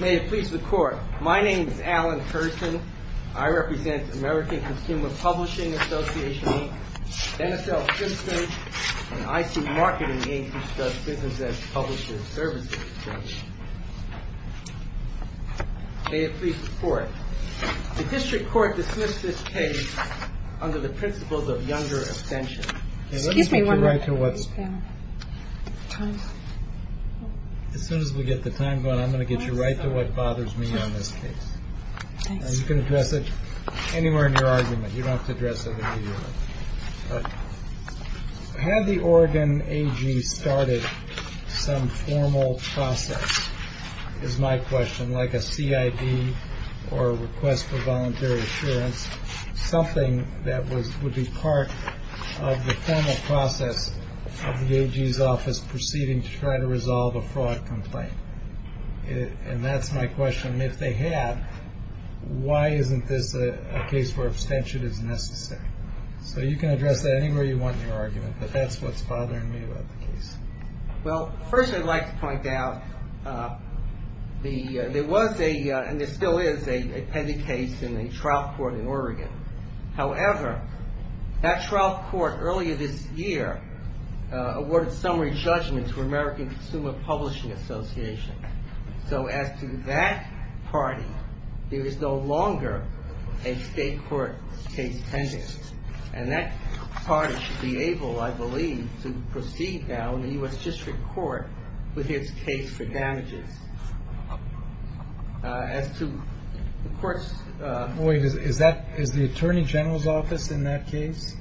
May it please the Court. My name is Alan Hurston. I represent American Consumer Publishing Association Inc., NSL Simpson, and IC Marketing Inc., which does business as publishers' services. May it please the Court. The District Court dismissed this case under the principles of younger abstention. Excuse me one moment. As soon as we get the time going, I'm going to get you right to what bothers me on this case. You can address it anywhere in your argument. You don't have to address it. Had the Oregon AG started some formal process, is my question, like a CID or request for voluntary assurance, something that would be part of the formal process of the AG's office proceeding to try to resolve a fraud complaint? And that's my question. If they had, why isn't this a case where abstention is necessary? So you can address that anywhere you want in your argument, but that's what's bothering me about the case. Well, first I'd like to point out there was a, and there still is, a pending case in a trial court in Oregon. However, that trial court earlier this year awarded summary judgment to American Consumer Publishing Association. So as to that party, there is no longer a state court case pending. And that party should be able, I believe, to proceed now in the U.S. District Court with his case for damages. As to the court's... Wait, is that, is the Attorney General's office in that case?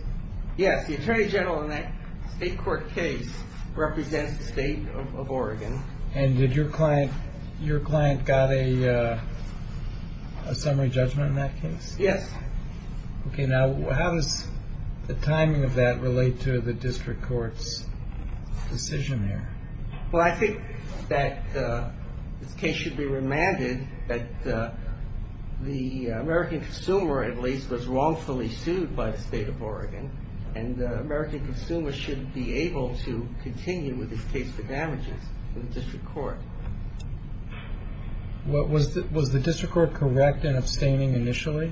Yes, the Attorney General in that state court case represents the state of Oregon. And did your client, your client got a summary judgment in that case? Yes. Okay, now how does the timing of that relate to the district court's decision here? Well, I think that this case should be remanded that the American consumer, at least, was wrongfully sued by the state of Oregon. And the American consumer should be able to continue with his case for damages in the district court. Was the district court correct in abstaining initially?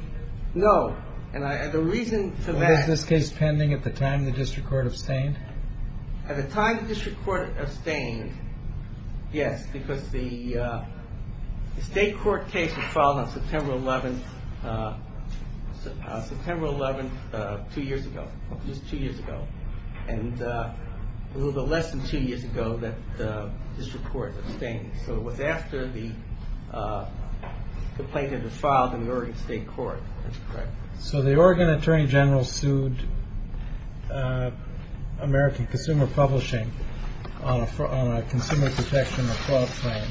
No. And the reason for that... Was this case pending at the time the district court abstained? At the time the district court abstained, yes, because the state court case was filed on September 11th, September 11th, two years ago. Just two years ago. And a little bit less than two years ago that the district court abstained. So it was after the complaint had been filed in the Oregon state court. That's correct. So the Oregon Attorney General sued American Consumer Publishing on a consumer protection fraud claim,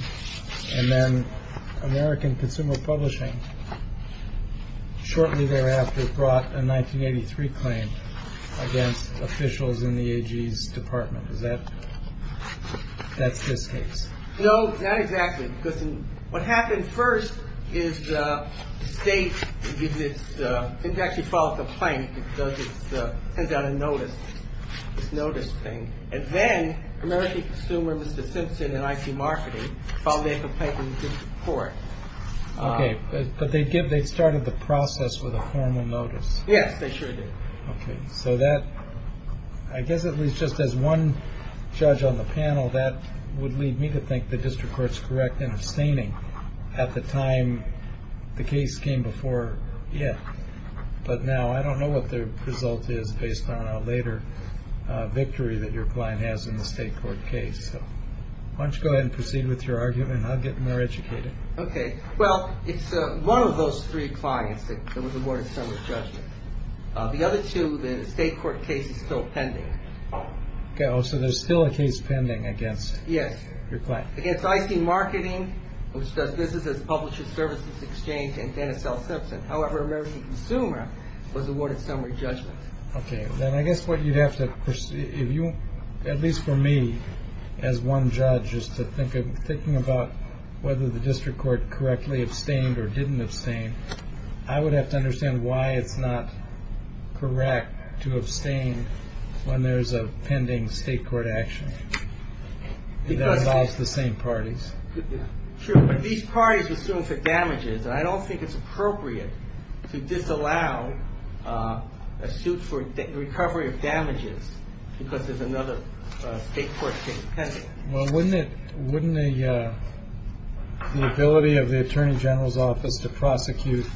and then American Consumer Publishing shortly thereafter brought a 1983 claim against officials in the AG's department. Is that, that's this case? No, not exactly. Because what happened first is the state, it actually filed a complaint because it sends out a notice, this notice thing. And then American Consumer, Mr. Simpson and IC Marketing filed a complaint with the district court. Okay. But they started the process with a formal notice. Yes, they sure did. Okay. So that, I guess at least just as one judge on the panel, that would lead me to think the district court's correct in abstaining at the time the case came before it. But now I don't know what the result is based on a later victory that your client has in the state court case. So why don't you go ahead and proceed with your argument and I'll get more educated. Okay. Well, it's one of those three clients that was awarded some of the judgment. The other two, the state court case is still pending. Okay. Oh, so there's still a case pending against your client. Yes. Against IC Marketing, which does business as Publisher Services Exchange, and Dennis L. Simpson. However, American Consumer was awarded some of the judgment. Okay. Then I guess what you'd have to, if you, at least for me as one judge, is to think of thinking about whether the district court correctly abstained or didn't abstain. I would have to understand why it's not correct to abstain when there's a pending state court action that involves the same parties. Sure. But these parties are suing for damages and I don't think it's appropriate to disallow a suit for recovery of damages because there's another state court case pending. Well, wouldn't it, wouldn't the ability of the attorney general's office to prosecute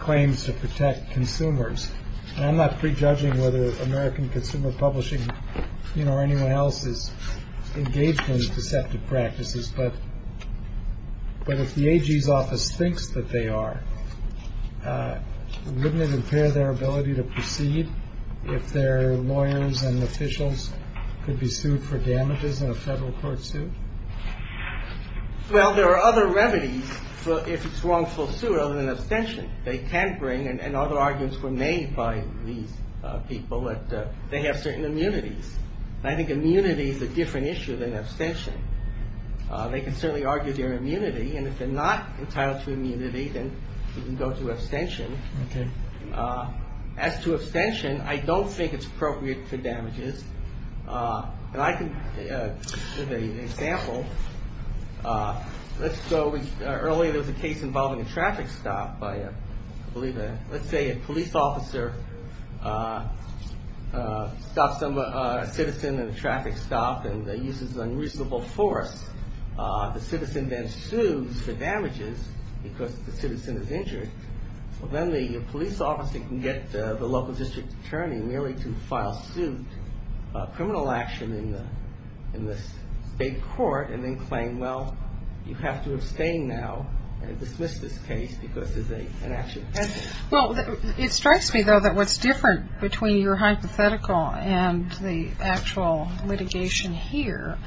claims to protect consumers? I'm not prejudging whether American Consumer Publishing, you know, or anyone else is engaged in deceptive practices, but if the AG's office thinks that they are, wouldn't it impair their ability to proceed if their lawyers and officials could be sued for damages in a federal court suit? Well, there are other remedies if it's wrongful suit other than abstention. They can bring, and other arguments were made by these people, that they have certain immunities. I think immunity is a different issue than abstention. They can certainly argue their immunity, and if they're not entitled to immunity, then you can go to abstention. Okay. As to abstention, I don't think it's appropriate for damages. And I can give an example. Let's go, earlier there was a case involving a traffic stop by, I believe, let's say a police officer stops a citizen in a traffic stop and uses unreasonable force. The citizen then sues for damages because the citizen is injured. So then the police officer can get the local district attorney merely to file suit, criminal action in the state court, and then claim, well, you have to abstain now and dismiss this case because it's an action. Well, it strikes me, though, that what's different between your hypothetical and the actual litigation here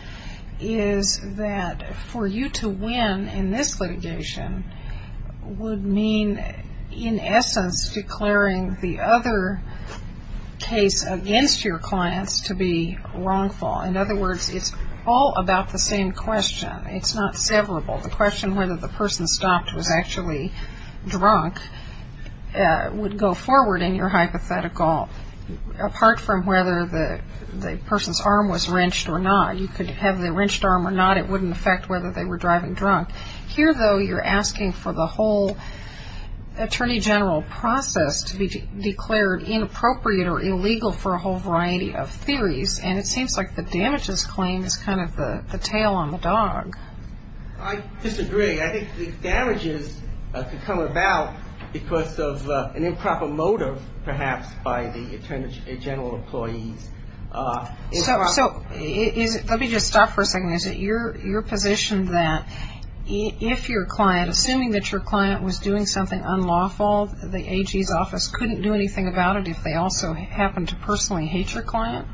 is that for you to win in this litigation would mean, in essence, declaring the other case against your clients to be wrongful. In other words, it's all about the same question. It's not severable. The question whether the person stopped was actually drunk would go forward in your hypothetical, apart from whether the person's arm was wrenched or not. You could have the wrenched arm or not. It wouldn't affect whether they were driving drunk. Here, though, you're asking for the whole attorney general process to be declared inappropriate or illegal for a whole variety of theories, and it seems like the damages claim is kind of the tail on the dog. I disagree. I think the damages could come about because of an improper motive, perhaps, by the attorney general employees. So let me just stop for a second. Is it your position that if your client, assuming that your client was doing something unlawful, the AG's office couldn't do anything about it if they also happened to personally hate your client?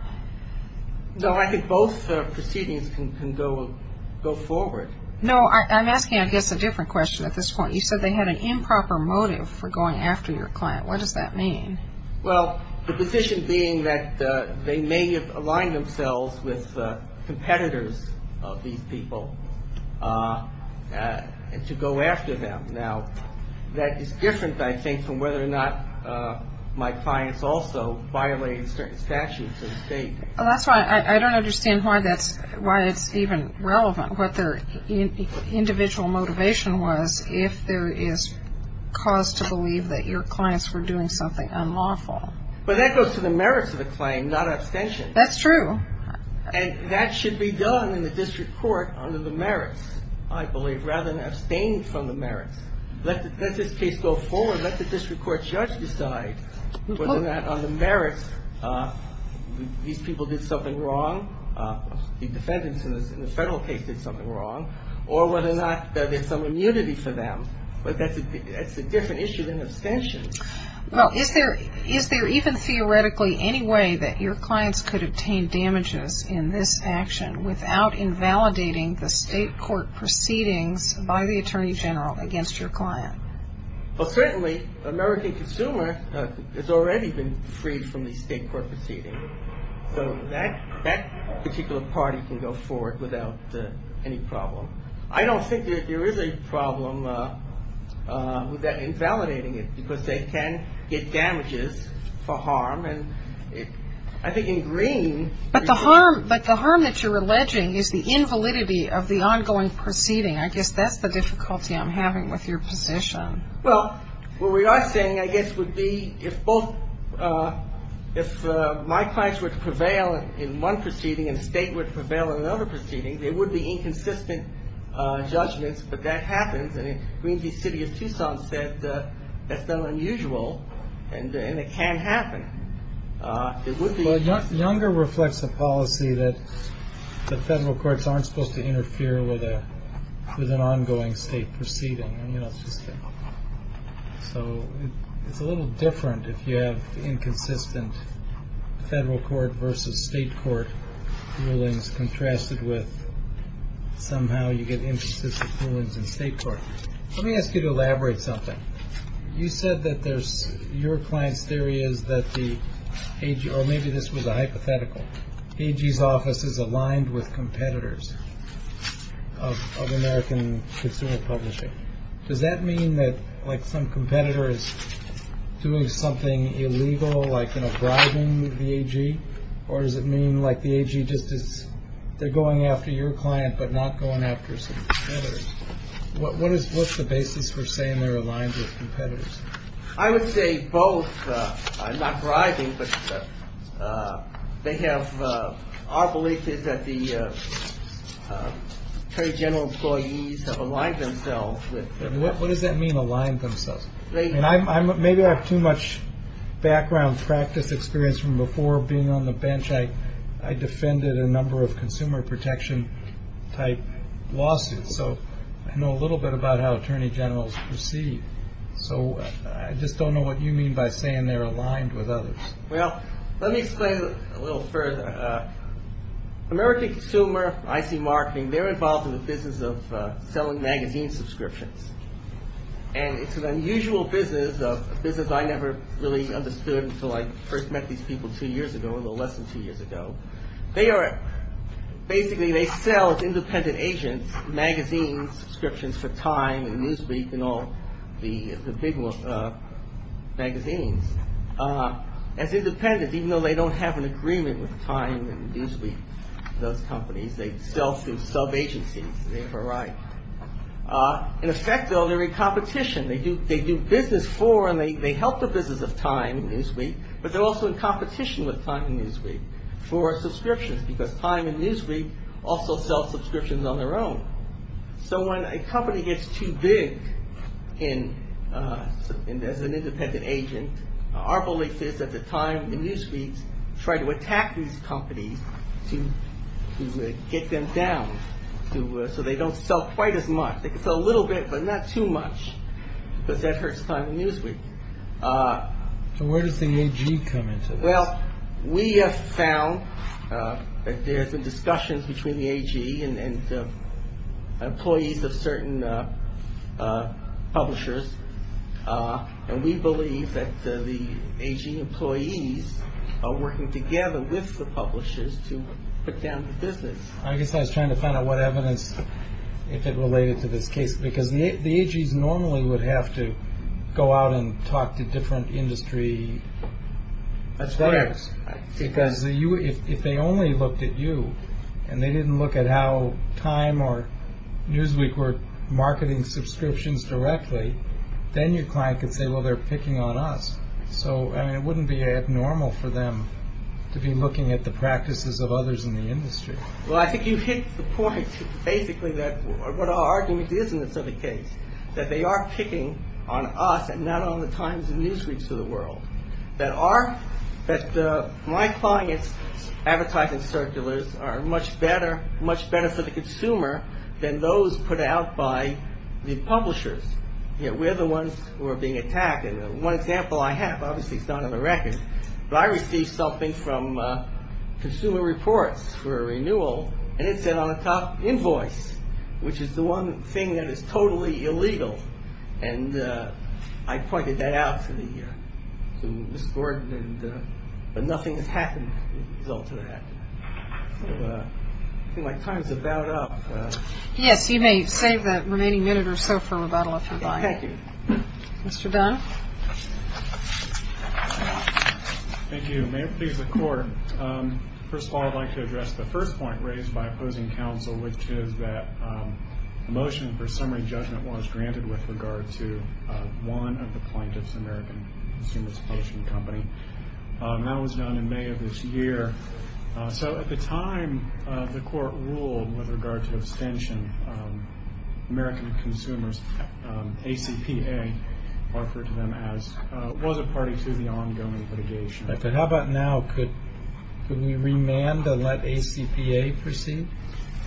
No, I think both proceedings can go forward. No, I'm asking, I guess, a different question at this point. You said they had an improper motive for going after your client. What does that mean? Well, the position being that they may have aligned themselves with competitors of these people to go after them. Now, that is different, I think, from whether or not my clients also violated certain statutes of the state. That's why I don't understand why that's, why it's even relevant, individual motivation was if there is cause to believe that your clients were doing something unlawful. But that goes to the merits of the claim, not abstention. That's true. And that should be done in the district court under the merits, I believe, rather than abstain from the merits. Let this case go forward. Let the district court judge decide whether or not on the merits these people did something wrong. The defendants in the federal case did something wrong. Or whether or not there's some immunity for them. But that's a different issue than abstention. Well, is there even theoretically any way that your clients could obtain damages in this action without invalidating the state court proceedings by the attorney general against your client? Well, certainly, the American consumer has already been freed from the state court proceedings. So that particular party can go forward without any problem. I don't think that there is a problem with invalidating it because they can get damages for harm. And I think in green. But the harm that you're alleging is the invalidity of the ongoing proceeding. I guess that's the difficulty I'm having with your position. Well, what we are saying, I guess, would be if both, if my clients were to prevail in one proceeding and the state were to prevail in another proceeding, there would be inconsistent judgments. But that happens. I mean, the city of Tucson said that's not unusual. And it can happen. It would be. Younger reflects a policy that the federal courts aren't supposed to interfere with an ongoing state proceeding. So it's a little different if you have inconsistent federal court versus state court rulings contrasted with somehow you get inconsistent rulings in state court. Let me ask you to elaborate something. You said that there's, your client's theory is that the AG, or maybe this was a hypothetical, AG's office is aligned with competitors of American consumer publishing. Does that mean that, like, some competitor is doing something illegal, like, you know, bribing the AG? Or does it mean, like, the AG just is, they're going after your client but not going after some competitors? What is, what's the basis for saying they're aligned with competitors? I would say both. I'm not bribing, but they have, our belief is that the attorney general employees have aligned themselves with. What does that mean, aligned themselves? Maybe I have too much background practice experience from before being on the bench. I defended a number of consumer protection type lawsuits. So I know a little bit about how attorney generals proceed. So I just don't know what you mean by saying they're aligned with others. Well, let me explain a little further. American Consumer, IC Marketing, they're involved in the business of selling magazine subscriptions. And it's an unusual business, a business I never really understood until I first met these people two years ago, a little less than two years ago. They are, basically they sell, as independent agents, magazines, subscriptions for Time and Newsweek and all the big magazines. As independent, even though they don't have an agreement with Time and Newsweek, those companies, they sell through sub-agencies, they have a right. In effect, though, they're in competition. They do business for and they help the business of Time and Newsweek, but they're also in competition with Time and Newsweek for subscriptions, because Time and Newsweek also sell subscriptions on their own. So when a company gets too big as an independent agent, our belief is that the Time and Newsweeks try to attack these companies to get them down, so they don't sell quite as much. They can sell a little bit, but not too much, because that hurts Time and Newsweek. So where does the AG come into this? Well, we have found that there's been discussions between the AG and employees of certain publishers, and we believe that the AG employees are working together with the publishers to put down the business. I guess I was trying to find out what evidence, if it related to this case, because the AGs normally would have to go out and talk to different industry players, because if they only looked at you, and they didn't look at how Time or Newsweek were marketing subscriptions directly, then your client could say, well, they're picking on us. So it wouldn't be abnormal for them to be looking at the practices of others in the industry. Well, I think you hit the point, basically, what our argument is in this other case, that they are picking on us and not on the Times and Newsweeks of the world, that my clients' advertising circulars are much better for the consumer than those put out by the publishers. We're the ones who are being attacked, and one example I have, obviously it's not on the record, but I received something from Consumer Reports for a renewal, and it said on the top, invoice, which is the one thing that is totally illegal. And I pointed that out to Ms. Gordon, but nothing has happened as a result of that. I think my time is about up. Yes, you may save that remaining minute or so for rebuttal if you'd like. Thank you. Mr. Dunn. Thank you. May it please the Court. First of all, I'd like to address the first point raised by opposing counsel, which is that a motion for summary judgment was granted with regard to one of the plaintiffs' American Consumers Potion Company. That was done in May of this year. So at the time the Court ruled with regard to abstention, American Consumers, ACPA, referred to them as it was a party to the ongoing litigation. How about now? Could we remand and let ACPA proceed?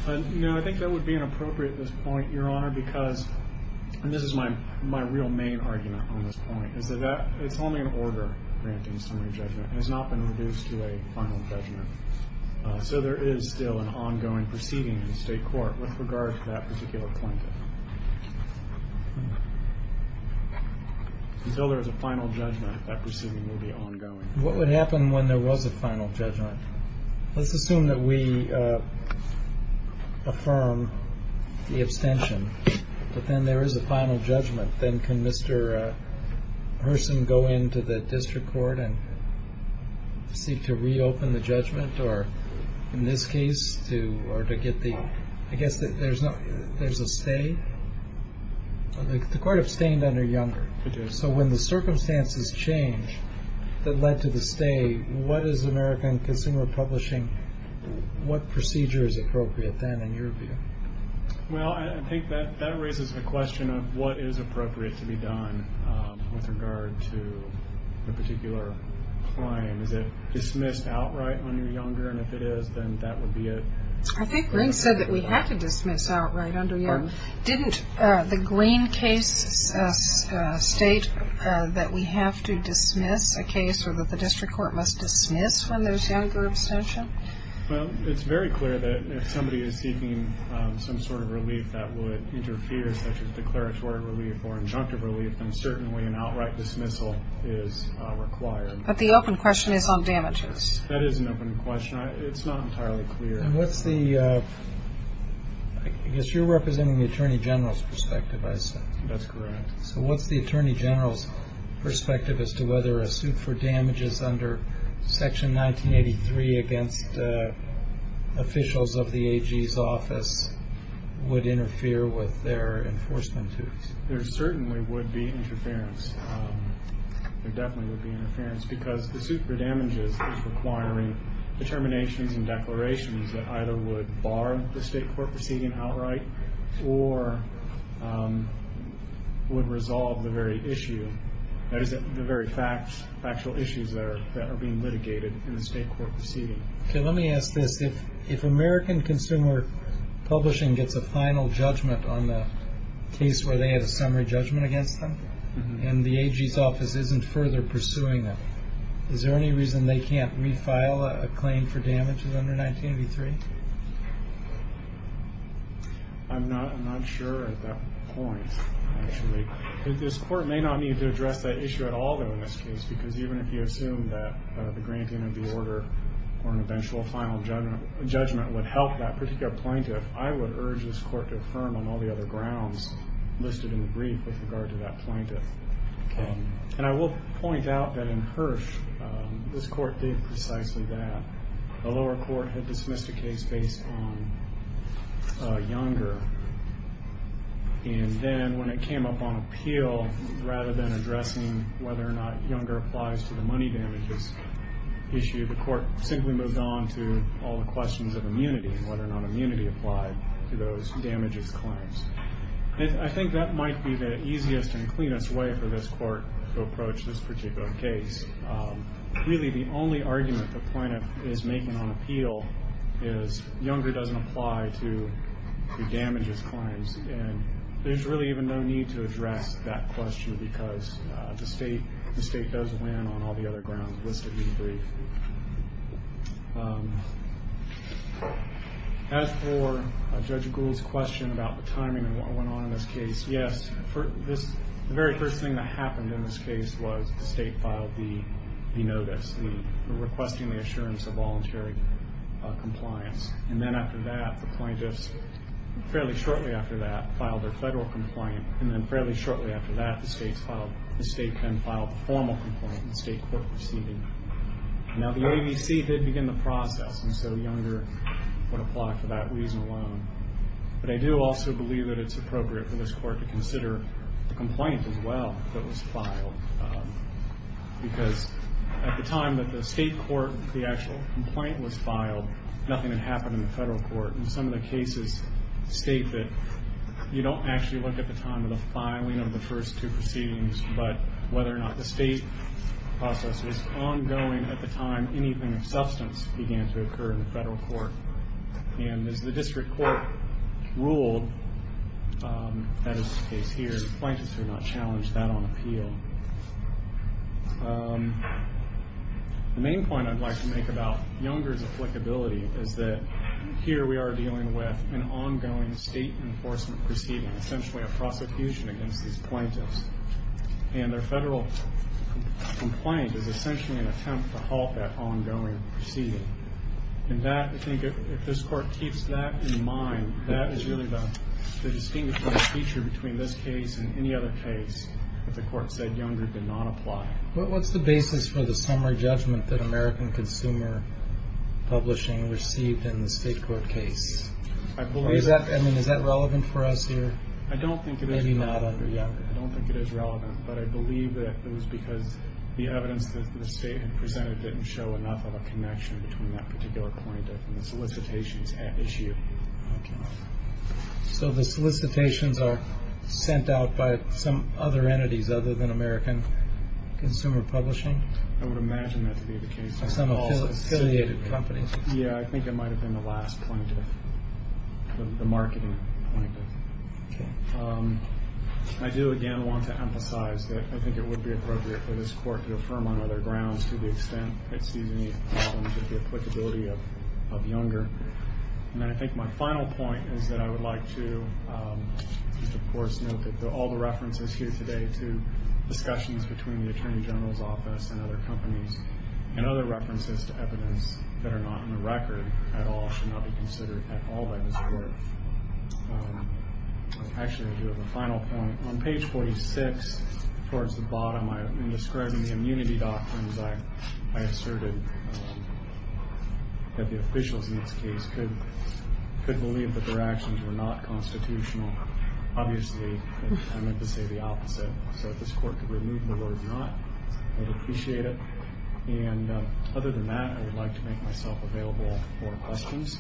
No, I think that would be inappropriate at this point, Your Honor, because, and this is my real main argument on this point, is that it's only an order granting summary judgment. It has not been reduced to a final judgment. So there is still an ongoing proceeding in the state court with regard to that particular plaintiff. Until there is a final judgment, that proceeding will be ongoing. What would happen when there was a final judgment? Let's assume that we affirm the abstention, but then there is a final judgment. Then can Mr. Hurson go into the district court and seek to reopen the judgment or, in this case, to get the, I guess there is a stay? The Court abstained under Younger. So when the circumstances change that led to the stay, what is American Consumer Publishing, what procedure is appropriate then in your view? Well, I think that raises the question of what is appropriate to be done with regard to a particular claim. Is it dismissed outright under Younger? And if it is, then that would be it. I think Greene said that we have to dismiss outright under Younger. Didn't the Greene case state that we have to dismiss a case or that the district court must dismiss when there is Younger abstention? Well, it's very clear that if somebody is seeking some sort of relief that would interfere, such as declaratory relief or injunctive relief, then certainly an outright dismissal is required. But the open question is on damages. That is an open question. It's not entirely clear. And what's the, I guess you're representing the Attorney General's perspective, I assume. That's correct. So what's the Attorney General's perspective as to whether a suit for damages under Section 1983 against officials of the AG's office would interfere with their enforcement duties? There certainly would be interference. There definitely would be interference because the suit for damages is requiring determinations and declarations that either would bar the state court proceeding outright or would resolve the very issue, that is the very factual issues that are being litigated in the state court proceeding. Okay. Let me ask this. If American Consumer Publishing gets a final judgment on the case where they have a summary judgment against them and the AG's office isn't further pursuing them, is there any reason they can't refile a claim for damages under 1983? I'm not sure at that point, actually. This court may not need to address that issue at all, though, in this case, because even if you assume that the granting of the order or an eventual final judgment would help that particular plaintiff, I would urge this court to affirm on all the other grounds listed in the brief with regard to that plaintiff. Okay. And I will point out that in Hirsch, this court did precisely that. The lower court had dismissed a case based on Younger, and then when it came up on appeal, rather than addressing whether or not Younger applies to the money damages issue, the court simply moved on to all the questions of immunity and whether or not immunity applied to those damages claims. I think that might be the easiest and cleanest way for this court to approach this particular case. Really, the only argument the plaintiff is making on appeal is Younger doesn't apply to the damages claims, and there's really even no need to address that question because the state does land on all the other grounds listed in the brief. As for Judge Gould's question about the timing of what went on in this case, yes, the very first thing that happened in this case was the state filed the notice, requesting the assurance of voluntary compliance. And then after that, the plaintiffs fairly shortly after that filed their federal complaint, and then fairly shortly after that, the state then filed the formal complaint in the state court proceeding. Now, the ABC did begin the process, and so Younger would apply for that reason alone. But I do also believe that it's appropriate for this court to consider the complaint as well that was filed because at the time that the state court, the actual complaint was filed, nothing had happened in the federal court. And some of the cases state that you don't actually look at the time of the filing of the first two proceedings, but whether or not the state process was ongoing at the time anything of substance began to occur in the federal court. And as the district court ruled, that is the case here, the plaintiffs do not challenge that on appeal. The main point I'd like to make about Younger's applicability is that here we are dealing with an ongoing state enforcement proceeding, essentially a prosecution against these plaintiffs. And their federal complaint is essentially an attempt to halt that ongoing proceeding. And that, I think, if this court keeps that in mind, that is really the distinguishing feature between this case and any other case that the court said Younger did not apply. What's the basis for the summary judgment that American Consumer Publishing received in the state court case? I believe that. I mean, is that relevant for us here? I don't think it is. Maybe not under Younger. I don't think it is relevant, but I believe that it was because the evidence that the state had presented didn't show enough of a connection between that particular plaintiff and the solicitations at issue. So the solicitations are sent out by some other entities other than American Consumer Publishing? I would imagine that to be the case. Some affiliated companies? Yeah, I think it might have been the last plaintiff, the marketing plaintiff. I do, again, want to emphasize that I think it would be appropriate for this court to affirm on other grounds to the extent it sees any problems with the applicability of Younger. And I think my final point is that I would like to, of course, note that all the references here today to discussions between the Attorney General's Office and other companies and other references to evidence that are not in the record at all should not be considered at all by this court. Actually, I do have a final point. On page 46, towards the bottom, in describing the immunity doctrines, I asserted that the officials in this case could believe that their actions were not constitutional. Obviously, I meant to say the opposite. So if this court could remove the word not, I would appreciate it. And other than that, I would like to make myself available for questions.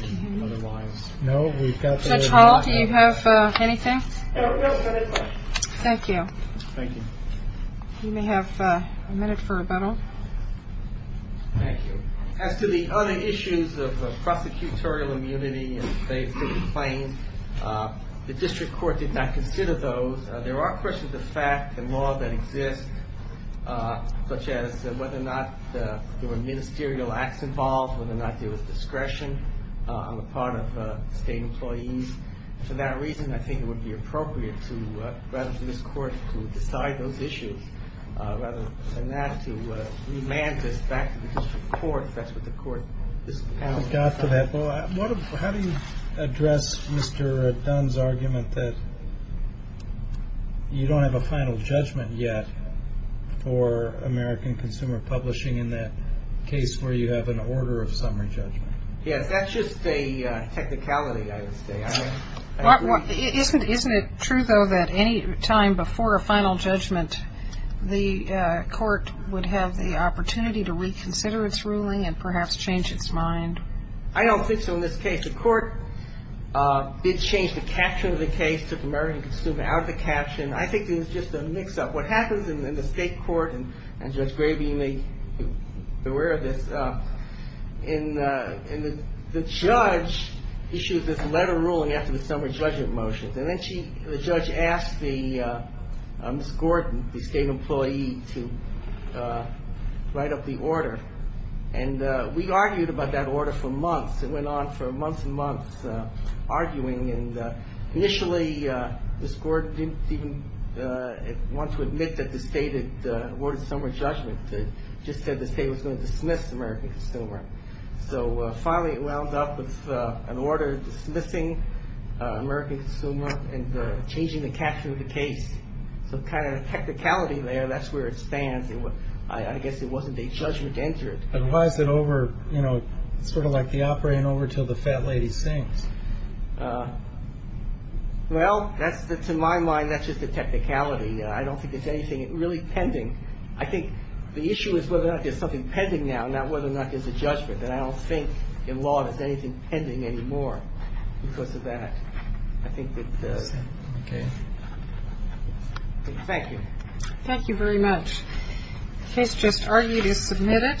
Judge Hall, do you have anything? No, we don't have any questions. Thank you. Thank you. You may have a minute for rebuttal. Thank you. As to the other issues of prosecutorial immunity in the case of the claim, the district court did not consider those. There are questions of fact and law that exist, such as whether or not there were ministerial acts involved, whether or not there was discretion on the part of state employees. For that reason, I think it would be appropriate to, rather than this court, to decide those issues. Rather than that, to remand this back to the district court, if that's what the court has decided. How do you address Mr. Dunn's argument that you don't have a final judgment yet for American Consumer Publishing in that case where you have an order of summary judgment? Yes, that's just a technicality, I would say. Isn't it true, though, that any time before a final judgment, the court would have the opportunity to reconsider its ruling and perhaps change its mind? I don't think so in this case. The court did change the caption of the case, took American Consumer out of the caption. I think it was just a mix-up. What happens in the state court, and Judge Gravey may be aware of this, the judge issues this letter ruling after the summary judgment motions. And then the judge asked Ms. Gordon, the state employee, to write up the order. And we argued about that order for months. It went on for months and months, arguing. Initially, Ms. Gordon didn't even want to admit that the state had awarded summary judgment. She just said the state was going to dismiss American Consumer. So finally it wound up with an order dismissing American Consumer and changing the caption of the case. So kind of a technicality there, that's where it stands. I guess it wasn't a judgment entered. But why is it over, you know, sort of like the opera in Over Till the Fat Lady Sings? Well, to my mind, that's just a technicality. I don't think it's anything really pending. I think the issue is whether or not there's something pending now, not whether or not there's a judgment. And I don't think in law there's anything pending anymore because of that. I think that's it. Okay. Thank you. Thank you very much. The case just argued is submitted.